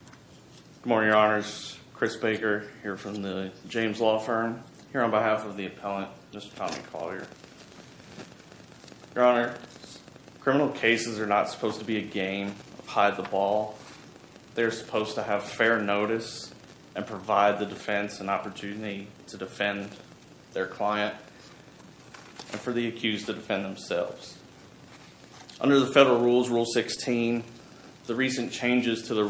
Good morning, Your Honors. Chris Baker here from the James Law Firm here on behalf of the appellant, Mr. Tommy Collier. Your Honor, criminal cases are not supposed to be a game of hide-the-ball. They're supposed to have fair notice and provide the defense an opportunity to defend their client and for the accused to defend themselves. Under the federal rules, Rule 16, the recent changes to the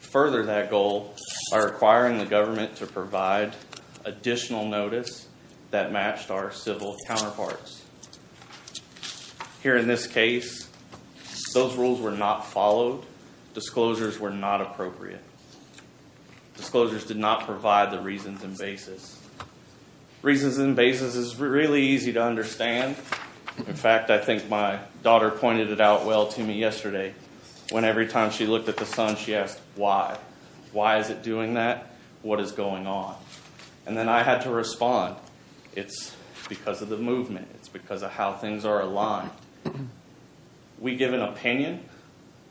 further that goal by requiring the government to provide additional notice that matched our civil counterparts. Here in this case, those rules were not followed. Disclosures were not appropriate. Disclosures did not provide the reasons and basis. Reasons and basis is really easy to understand. In fact, I looked at the son, she asked, why? Why is it doing that? What is going on? And then I had to respond, it's because of the movement. It's because of how things are aligned. We give an opinion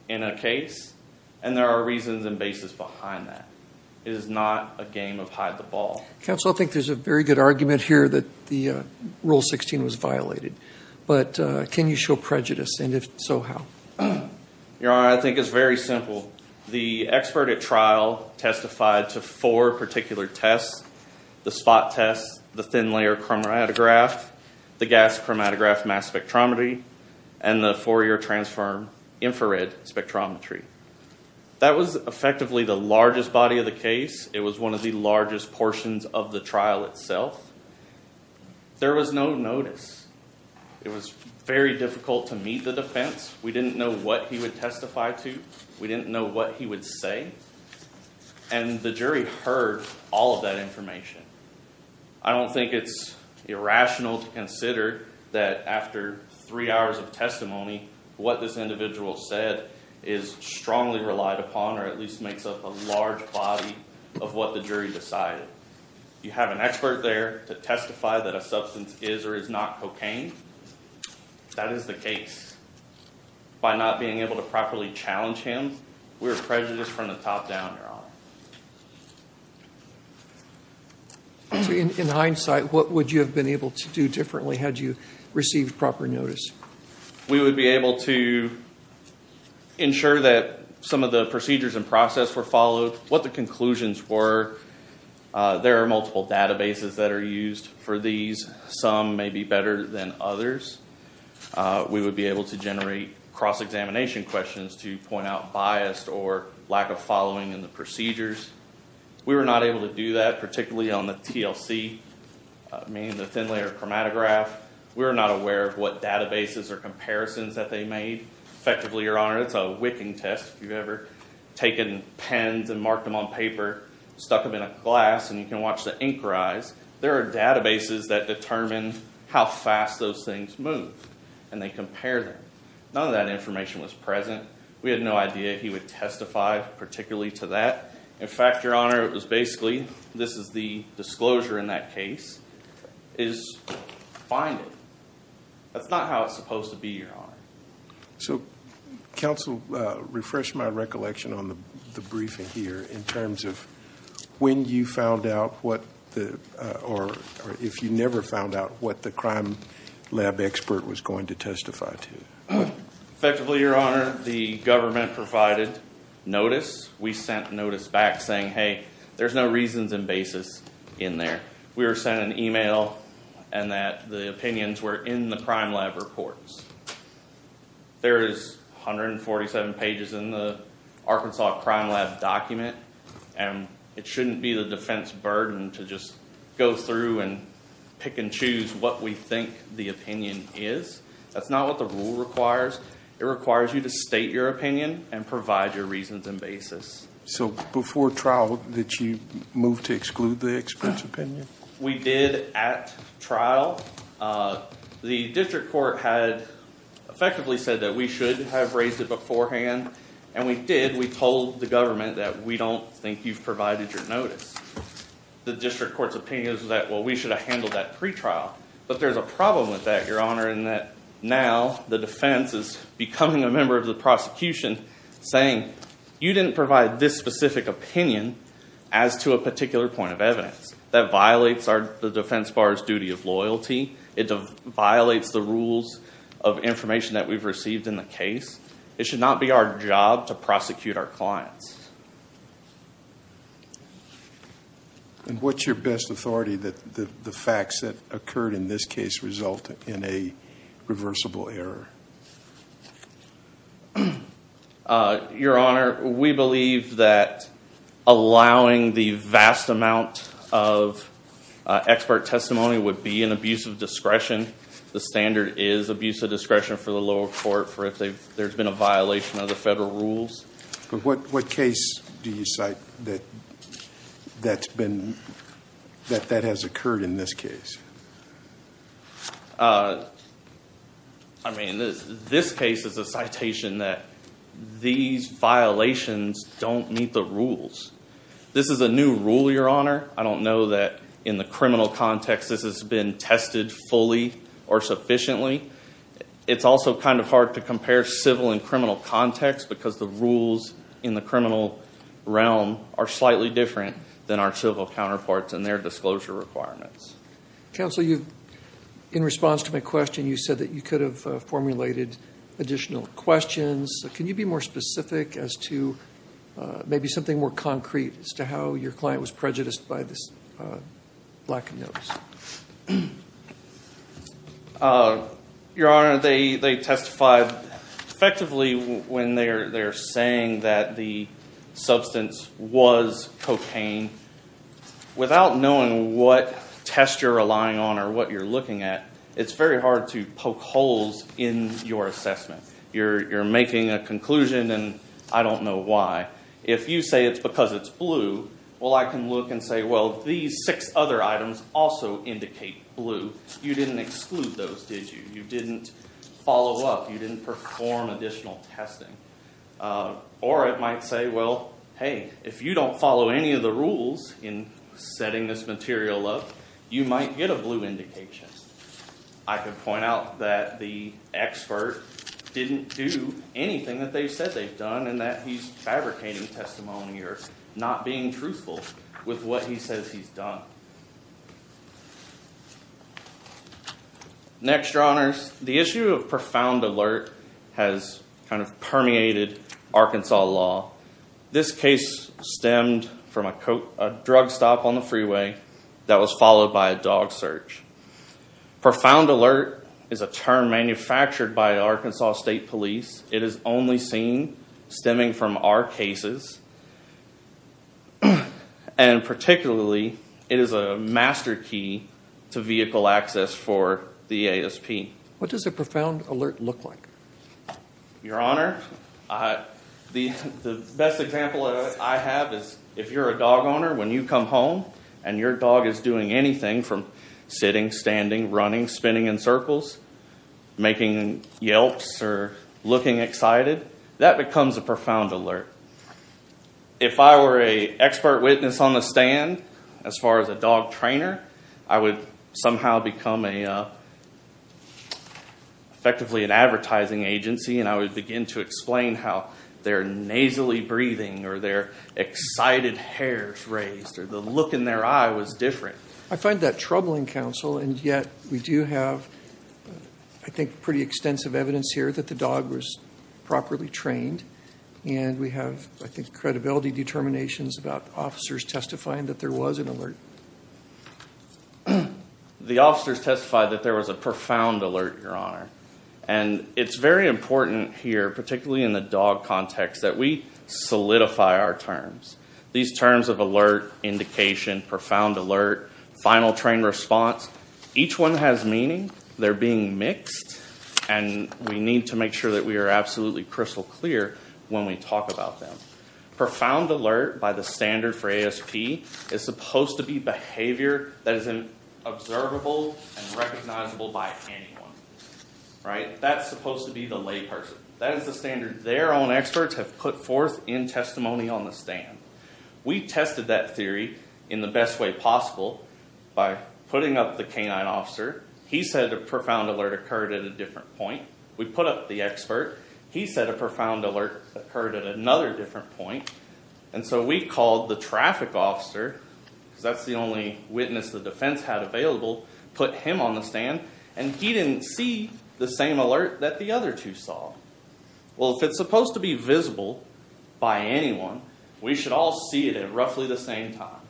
in a case and there are reasons and basis behind that. It is not a game of hide-the-ball. Counsel, I think there's a very good argument here that the Rule 16 was violated, but can you show prejudice and if so, how? Your Honor, I think it's very simple. The expert at trial testified to four particular tests. The spot test, the thin layer chromatograph, the gas chromatograph mass spectrometry, and the Fourier transform infrared spectrometry. That was effectively the largest body of the case. It was one of the largest portions of the trial itself. There was no notice. It was very difficult to meet the defense. We didn't know what he would testify to. We didn't know what he would say and the jury heard all of that information. I don't think it's irrational to consider that after three hours of testimony, what this individual said is strongly relied upon or at least makes up a large body of what the jury decided. You have an expert there to testify that a substance is or is not cocaine. That is the case. By not being able to properly challenge him, we're prejudiced from the top down, Your Honor. In hindsight, what would you have been able to do differently had you received proper notice? We would be able to ensure that some of the procedures and process were followed, what the conclusions were. There are multiple databases that are larger than others. We would be able to generate cross-examination questions to point out bias or lack of following in the procedures. We were not able to do that, particularly on the TLC, meaning the thin layer chromatograph. We were not aware of what databases or comparisons that they made. Effectively, Your Honor, it's a wicking test. If you've ever taken pens and marked them on paper, stuck them in a glass and you can watch the ink rise, there are databases that determine how fast those things move and they compare them. None of that information was present. We had no idea he would testify particularly to that. In fact, Your Honor, it was basically, this is the disclosure in that case, is find it. That's not how it's supposed to be, Your Honor. So, counsel, refresh my recollection on the briefing here in terms of when you found out what the, or if you never found out what the crime lab expert was going to testify to. Effectively, Your Honor, the government provided notice. We sent notice back saying, hey, there's no reasons and basis in there. We were sent an email and that the opinions were in the crime lab reports. There is 147 pages in the Arkansas crime lab document and it shouldn't be the defense burden to just go through and pick and choose what we think the opinion is. That's not what the rule requires. It requires you to state your opinion and provide your reasons and basis. So, before trial, did you move to exclude the expert's opinion? We did at trial. The district court had effectively said that we should have raised it beforehand and we did. We told the government that we don't think you've provided your notice. The district court's opinion is that, well, we should have handled that pre-trial. But there's a problem with that, Your Honor, in that now the defense is becoming a member of the prosecution saying, you didn't provide this specific opinion as to a particular point of evidence. That violates the defense bar's duty of loyalty. It violates the rules of information that we've received in the case. It should not be our job to And what's your best authority that the facts that occurred in this case result in a reversible error? Your Honor, we believe that allowing the vast amount of expert testimony would be an abuse of discretion. The standard is abuse of discretion for the lower court for if there's been a violation of the standard, that that has occurred in this case. I mean, this case is a citation that these violations don't meet the rules. This is a new rule, Your Honor. I don't know that in the criminal context this has been tested fully or sufficiently. It's also kind of hard to compare civil and criminal context because the rules in the criminal realm are slightly different than our civil counterparts and their disclosure requirements. Counsel, in response to my question, you said that you could have formulated additional questions. Can you be more specific as to maybe something more concrete as to how your client was prejudiced by this lack of notice? Your Honor, they testified effectively when they're saying that the substance was cocaine. Without knowing what test you're relying on or what you're looking at, it's very hard to poke holes in your assessment. You're making a conclusion and I don't know why. If you say it's because it's blue, well, I can look and say, well, these six other items also indicate blue. You didn't exclude those, did you? You didn't follow up. You didn't perform additional testing. Or it might say, well, hey, if you don't follow any of the rules in setting this material up, you might get a blue indication. I could point out that the expert didn't do anything that they said they've done and that he's fabricating testimony or not being truthful with what he says he's done. Next, Your Honors, the issue of profound alert has kind of permeated Arkansas law. This case stemmed from a drug stop on the freeway that was followed by a dog search. Profound alert is a term manufactured by Arkansas State Police. It is only seen stemming from our cases. And particularly, it is a master key to vehicle access for the ASP. What does a profound alert look like? Your Honor, the best example I have is if you're a dog owner, when you come home and your dog is doing anything from sitting, standing, running, spinning in circles, making yelps or looking excited, that becomes a profound alert. If I were an expert witness on the stand, as far as a dog trainer, I would somehow become effectively an advertising agency and I would begin to explain how their nasally breathing or their excited hairs raised or the look in their eye was different. I find that troubling, counsel, and yet we do have, I think, pretty extensive evidence here that the dog was properly trained and we have, I think, credibility determinations about officers testifying that there was an alert. The officers testified that there was a profound alert, Your Honor, and it's very important here, particularly in the terms. These terms of alert, indication, profound alert, final trained response, each one has meaning. They're being mixed and we need to make sure that we are absolutely crystal clear when we talk about them. Profound alert, by the standard for ASP, is supposed to be behavior that is observable and recognizable by anyone, right? That's supposed to be the layperson. That is the standard their own experts have put forth in testimony on the stand. We tested that theory in the best way possible by putting up the canine officer. He said a profound alert occurred at a different point. We put up the expert. He said a profound alert occurred at another different point and so we called the traffic officer, because that's the only witness the defense had available, put him on the stand and he didn't see the same alert that the other two saw. Well, if it's supposed to be visible by anyone, we should all see it at roughly the same time.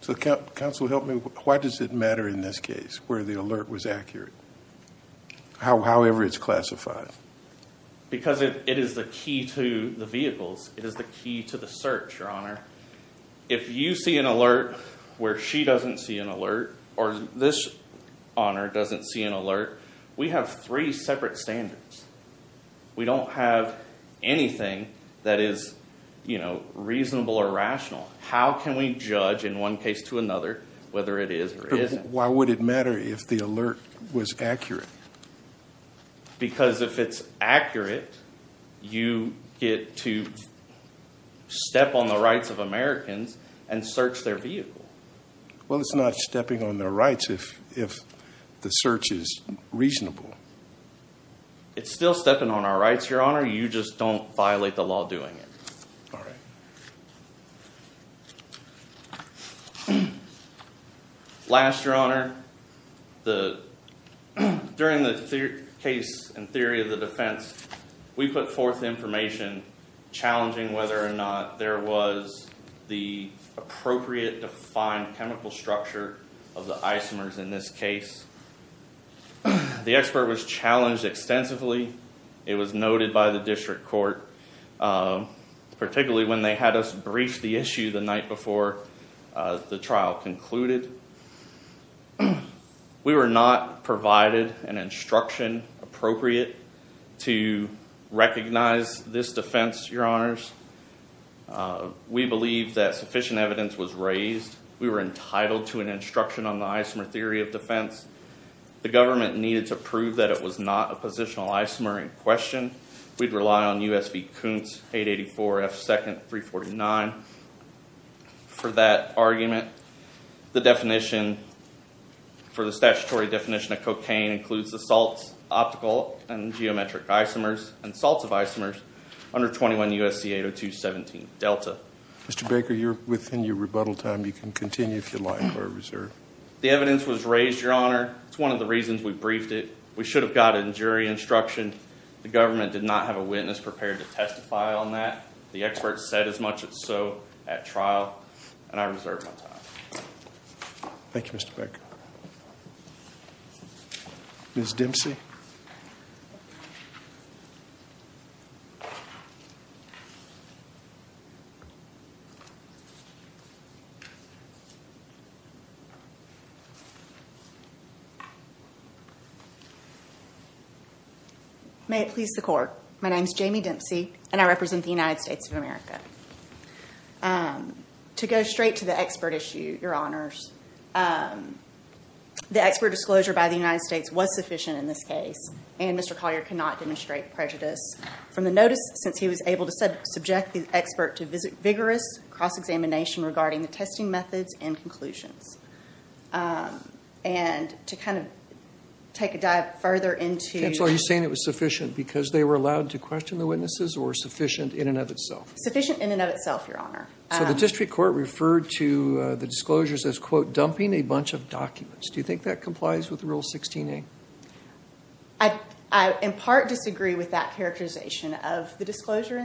So counsel, help me, why does it matter in this case where the alert was accurate? However it's classified. Because it is the key to the vehicles. It is the key to the search, Your Honor. If you see an alert where she doesn't see an alert or this honor doesn't see an alert, we have three separate standards. We don't have anything that is, you know, reasonable or rational. How can we judge in one case to another whether it is or isn't? Why would it matter if the alert was accurate? Because if it's accurate, you get to step on the rights of Americans and search their vehicle. Well, it's not stepping on their rights if the search is reasonable. It's still stepping on our rights, Your Honor. You just don't violate the law doing it. All right. Last, Your Honor, during the case and theory of the defense, we put forth information challenging whether or not there was the appropriate defined chemical structure of the isomers in this case. The expert was challenged extensively. It was noted by the district court, particularly when they had us brief the issue the night before the trial concluded. We were not provided an instruction appropriate to recognize this defense, Your Honors. We believe that we're entitled to an instruction on the isomer theory of defense. The government needed to prove that it was not a positional isomer in question. We'd rely on U.S. v. Kuntz, 884 F. 2nd, 349 for that argument. The definition for the statutory definition of cocaine includes the salts, optical and geometric isomers and salts of isomers under 21 U.S.C. 802.17 Delta. Mr. Baker, you're within your lifetime reserve. The evidence was raised, Your Honor. It's one of the reasons we briefed it. We should have gotten jury instruction. The government did not have a witness prepared to testify on that. The expert said as much as so at trial, and I reserve my time. Thank you, Mr. Baker. Ms. Dempsey. May it please the Court. My name is Jamie Dempsey, and I represent the United States of America. To go straight to the expert issue, Your Honors, the expert disclosure by the United States was sufficient in this case, and Mr. Collier cannot demonstrate prejudice from the notice since he was able to subject the expert to vigorous cross-examination regarding the testing methods and conclusions. And to kind of take a dive further into... Counsel, are you saying it was sufficient because they were allowed to question the witnesses or sufficient in and of itself? Sufficient in and of itself, Your Honor. So the district court referred to the disclosures as, quote, dumping a bunch of documents. Do you think that complies with Rule 16a? I in part disagree with that characterization of the disclosure.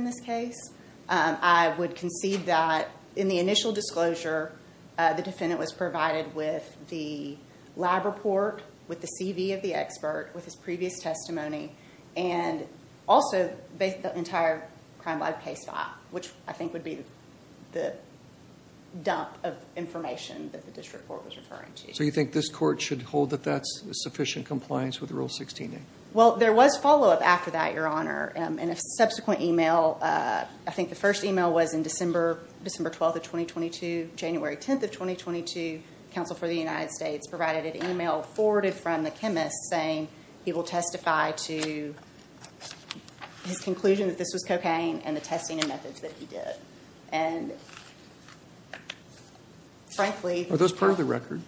I would concede that in the initial disclosure, the defendant was provided with the lab report, with the CV of the expert, with his previous testimony, and also the entire crime lab case file, which I think would be the dump of information that the district court was referring to. So you think this court should hold that that's sufficient compliance with Rule 16a? Well, there was follow-up after that, Your Honor, and a subsequent email. I think the first email was in December 12th of 2022, January 10th of 2022. Counsel for the United States provided an email forwarded from the chemist saying he will testify to his conclusion that this was cocaine and the testing and methods that he did. And frankly... Are those part of the record?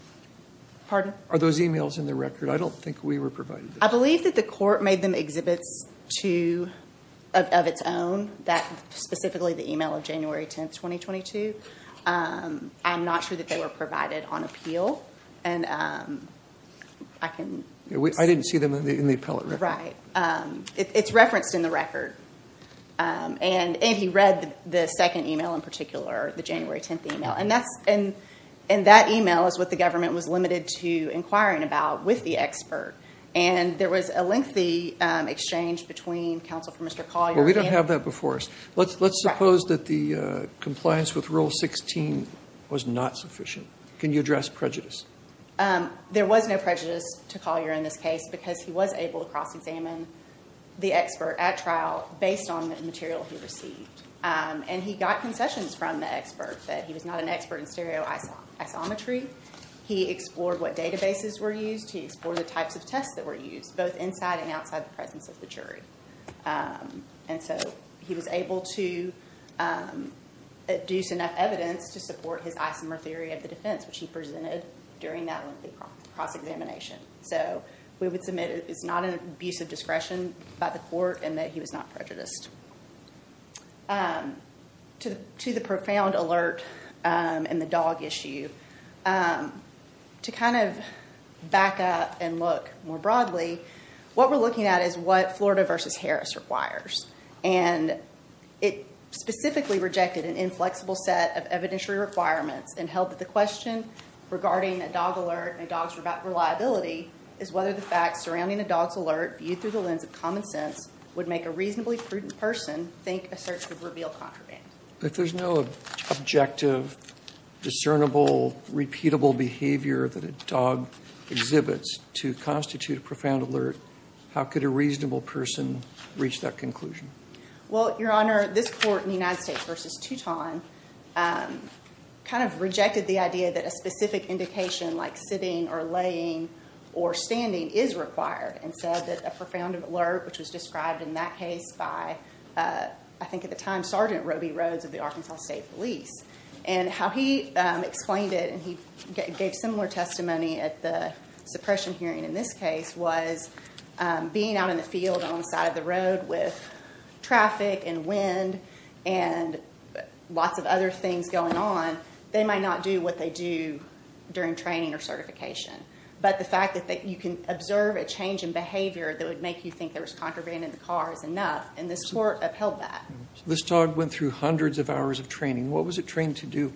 Pardon? Are those emails in the record? I don't think we were provided. I believe that the court made them exhibits of its own, that specifically the email of January 10th 2022. I'm not sure that they were provided on appeal. I didn't see them in the appellate record. Right. It's referenced in the record. And he read the second email in particular, the January 10th email. And that email is what the government was limited to inquiring about with the expert. And there was a lengthy exchange between counsel for Mr. Collier and him. Well, we don't have that before us. Let's suppose that the compliance with Rule 16 was not sufficient. Can you address prejudice? There was no prejudice to Collier in this case because he was able to cross-examine the expert at trial based on the material he received. And he got concessions from the expert that he was not an expert in stereoisometry. He explored what databases were used. He explored both inside and outside the presence of the jury. And so he was able to deduce enough evidence to support his isomer theory of the defense, which he presented during that lengthy cross-examination. So we would submit it's not an abuse of discretion by the court and that he was not prejudiced. To the What we're looking at is what Florida v. Harris requires. And it specifically rejected an inflexible set of evidentiary requirements and held that the question regarding a dog alert and a dog's reliability is whether the fact surrounding a dog's alert viewed through the lens of common sense would make a reasonably prudent person think a search would reveal contraband. If there's no objective, discernible, repeatable behavior that a dog exhibits to constitute a profound alert, how could a reasonable person reach that conclusion? Well, Your Honor, this court in the United States v. Tuton kind of rejected the idea that a specific indication like sitting or laying or standing is required and said that a profound alert, which was described in that case by, I think at the time, Sergeant Roby Rhodes of the Arkansas State Police. And how he explained it, and he gave similar testimony at the suppression hearing in this case, was being out in the field on the side of the road with traffic and wind and lots of other things going on, they might not do what they do during training or certification. But the fact that you can observe a change in behavior that would make you think there was contraband in the car is enough, and this court upheld that. This dog went through hundreds of hours of training. What was it trained to do?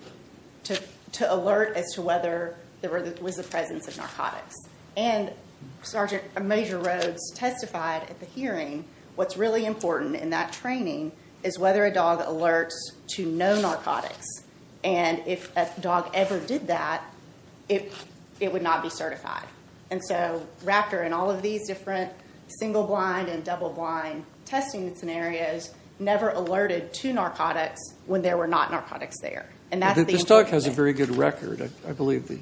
To alert as to whether there was a presence of narcotics. Sergeant Major Rhodes testified at the hearing, what's really important in that training is whether a dog alerts to no narcotics. And if a dog ever did that, it would not be certified. And so Raptor and all of these different single-blind and double-blind testing scenarios never alerted to narcotics when there were not narcotics there. And that's the... This dog has a very good record. I believe the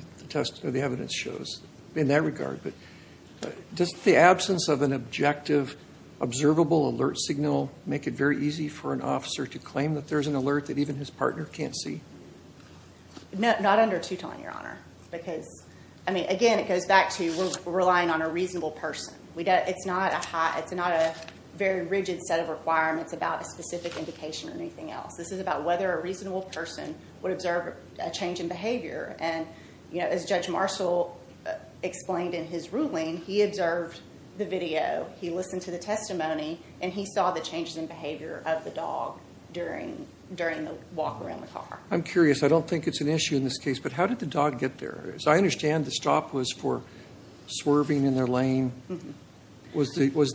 evidence shows in that regard. But does the absence of an objective, observable alert signal make it very easy for an officer to claim that there's an alert that even his partner can't see? Not under Tuton, Your Honor. Because, I mean, again, it goes back to relying on a reasonable person. We got... It's not a high... It's not a very rigid set of requirements about a specific indication or anything else. This is about whether a reasonable person would observe a change in behavior. And, you know, as Judge Marshall explained in his ruling, he observed the video, he listened to the testimony, and he saw the changes in behavior of the dog during the walk around the car. I'm curious. I don't think it's an issue in this case, but how did the dog get there? As I understand, the stop was for swerving in their lane. Was this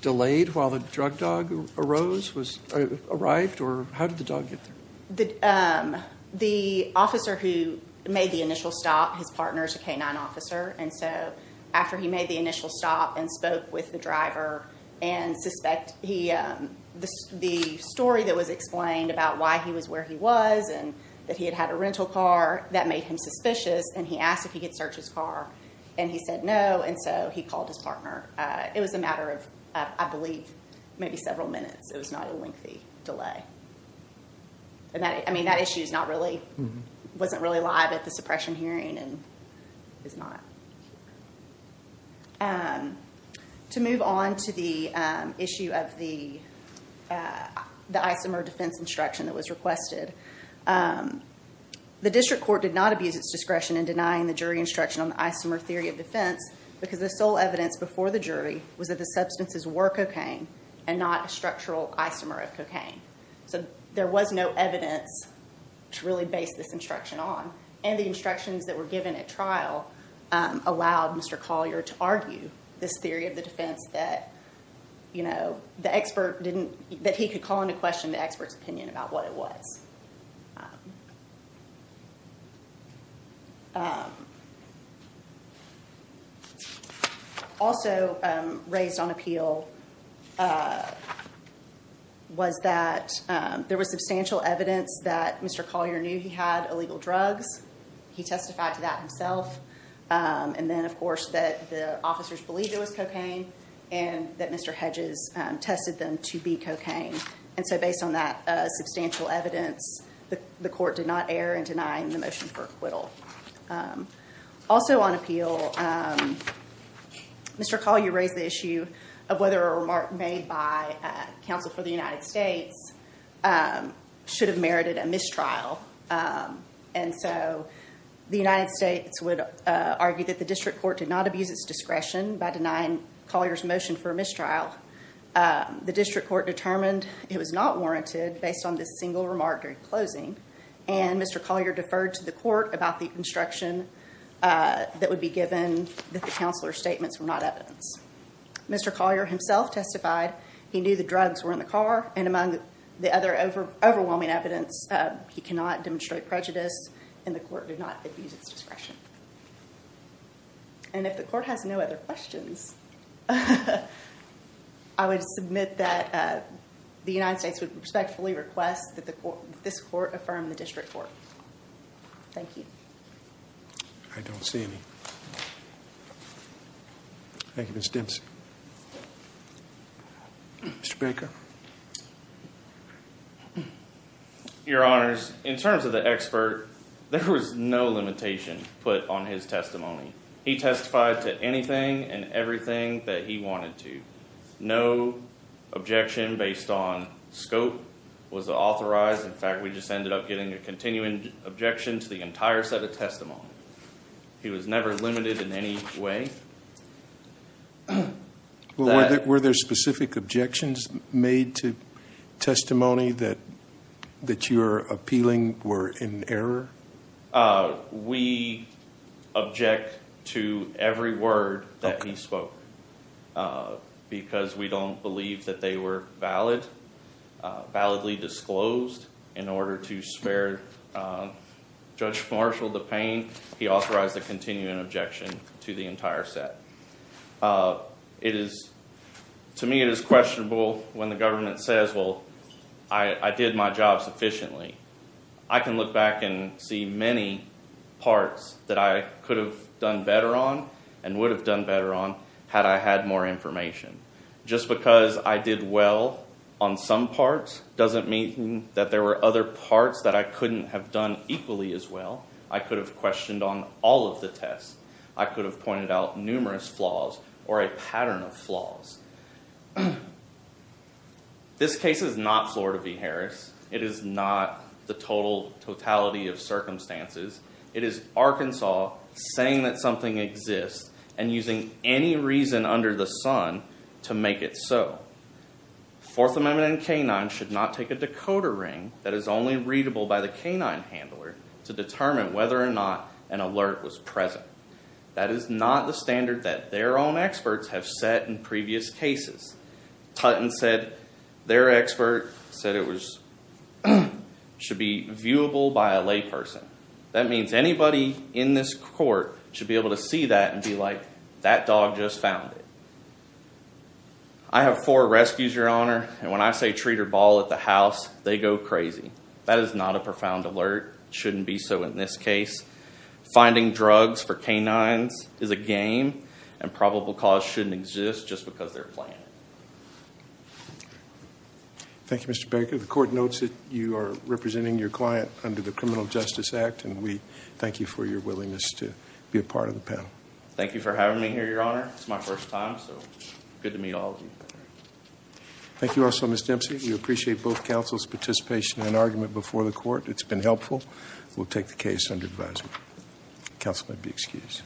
delayed while the drug dog arose, arrived, or how did the dog get there? The officer who made the initial stop, his partner's a K-9 officer, and so after he made the initial stop and spoke with the driver and suspect, the story that was explained about why he was where he was and that he had had a rental car, that made him suspicious. And he asked if he could search his car, and he said no. And so he waited, I believe, maybe several minutes. It was not a lengthy delay. And that, I mean, that issue is not really, wasn't really live at the suppression hearing and is not. To move on to the issue of the isomer defense instruction that was requested, the district court did not abuse its discretion in denying the jury instruction on the isomer theory of defense because the sole evidence before the jury was that the substances were cocaine and not a structural isomer of cocaine. So there was no evidence to really base this instruction on. And the instructions that were given at trial allowed Mr. Collier to argue this theory of the defense that, you know, the expert didn't, that he could call into question the expert's opinion about what it was. Also raised on appeal was that there was substantial evidence that Mr. Collier knew he had illegal drugs. He testified to that himself. And then, of course, that the officers believed it was cocaine and that Mr. Hedges tested them to be the court did not err in denying the motion for acquittal. Also on appeal, Mr. Collier raised the issue of whether a remark made by counsel for the United States should have merited a mistrial. And so the United States would argue that the district court did not abuse its discretion by denying Collier's motion for mistrial. The district court determined it was not warranted based on this single remark during closing. And Mr. Collier deferred to the court about the instruction that would be given that the counselor's statements were not evidence. Mr. Collier himself testified he knew the drugs were in the car. And among the other overwhelming evidence, he cannot demonstrate prejudice and the court did not abuse its discretion. And if the court has no other questions, I would submit that the United States would respectfully request that this court affirm the district court. Thank you. I don't see any. Thank you, Ms. Dempsey. Mr. Baker. Your honors, in terms of the expert, there was no limitation put on his testimony. He testified to anything and everything that he wanted to. No objection based on scope was authorized. In fact, we just ended up getting a continuing objection to the entire set of testimony. He was never limited in any way. Were there specific objections made to we object to every word that he spoke? Uh, because we don't believe that they were valid, validly disclosed in order to spare Judge Marshall the pain. He authorized the continuing objection to the entire set. Uh, it is to me. It is questionable when the government says, Well, I did my job sufficiently. I can parts that I could have done better on and would have done better on had I had more information. Just because I did well on some parts doesn't mean that there were other parts that I couldn't have done equally as well. I could have questioned on all of the tests. I could have pointed out numerous flaws or a pattern of flaws. This case is not Florida v. Harris. It is not the total totality of Arkansas saying that something exists and using any reason under the sun to make it so. Fourth Amendment and K-9 should not take a decoder ring that is only readable by the K-9 handler to determine whether or not an alert was present. That is not the standard that their own experts have set in previous cases. Tutton said their expert said it should be viewable by a layperson. That means anybody in this court should be able to see that and be like, That dog just found it. I have four rescues, your honor. And when I say treat her ball at the house, they go crazy. That is not a profound alert. Shouldn't be. So in this case, finding drugs for canines is a game and probable cause shouldn't exist just because they're playing. Thank you, Mr Baker. The court notes that you are representing your client under the Criminal Justice Act, and we thank you for your willingness to be a part of the panel. Thank you for having me here, your honor. It's my first time, so good to meet all of you. Thank you. Also, Miss Dempsey, we appreciate both counsel's participation in an argument before the court. It's been helpful. We'll take the case under advisement. Counsel might be excused.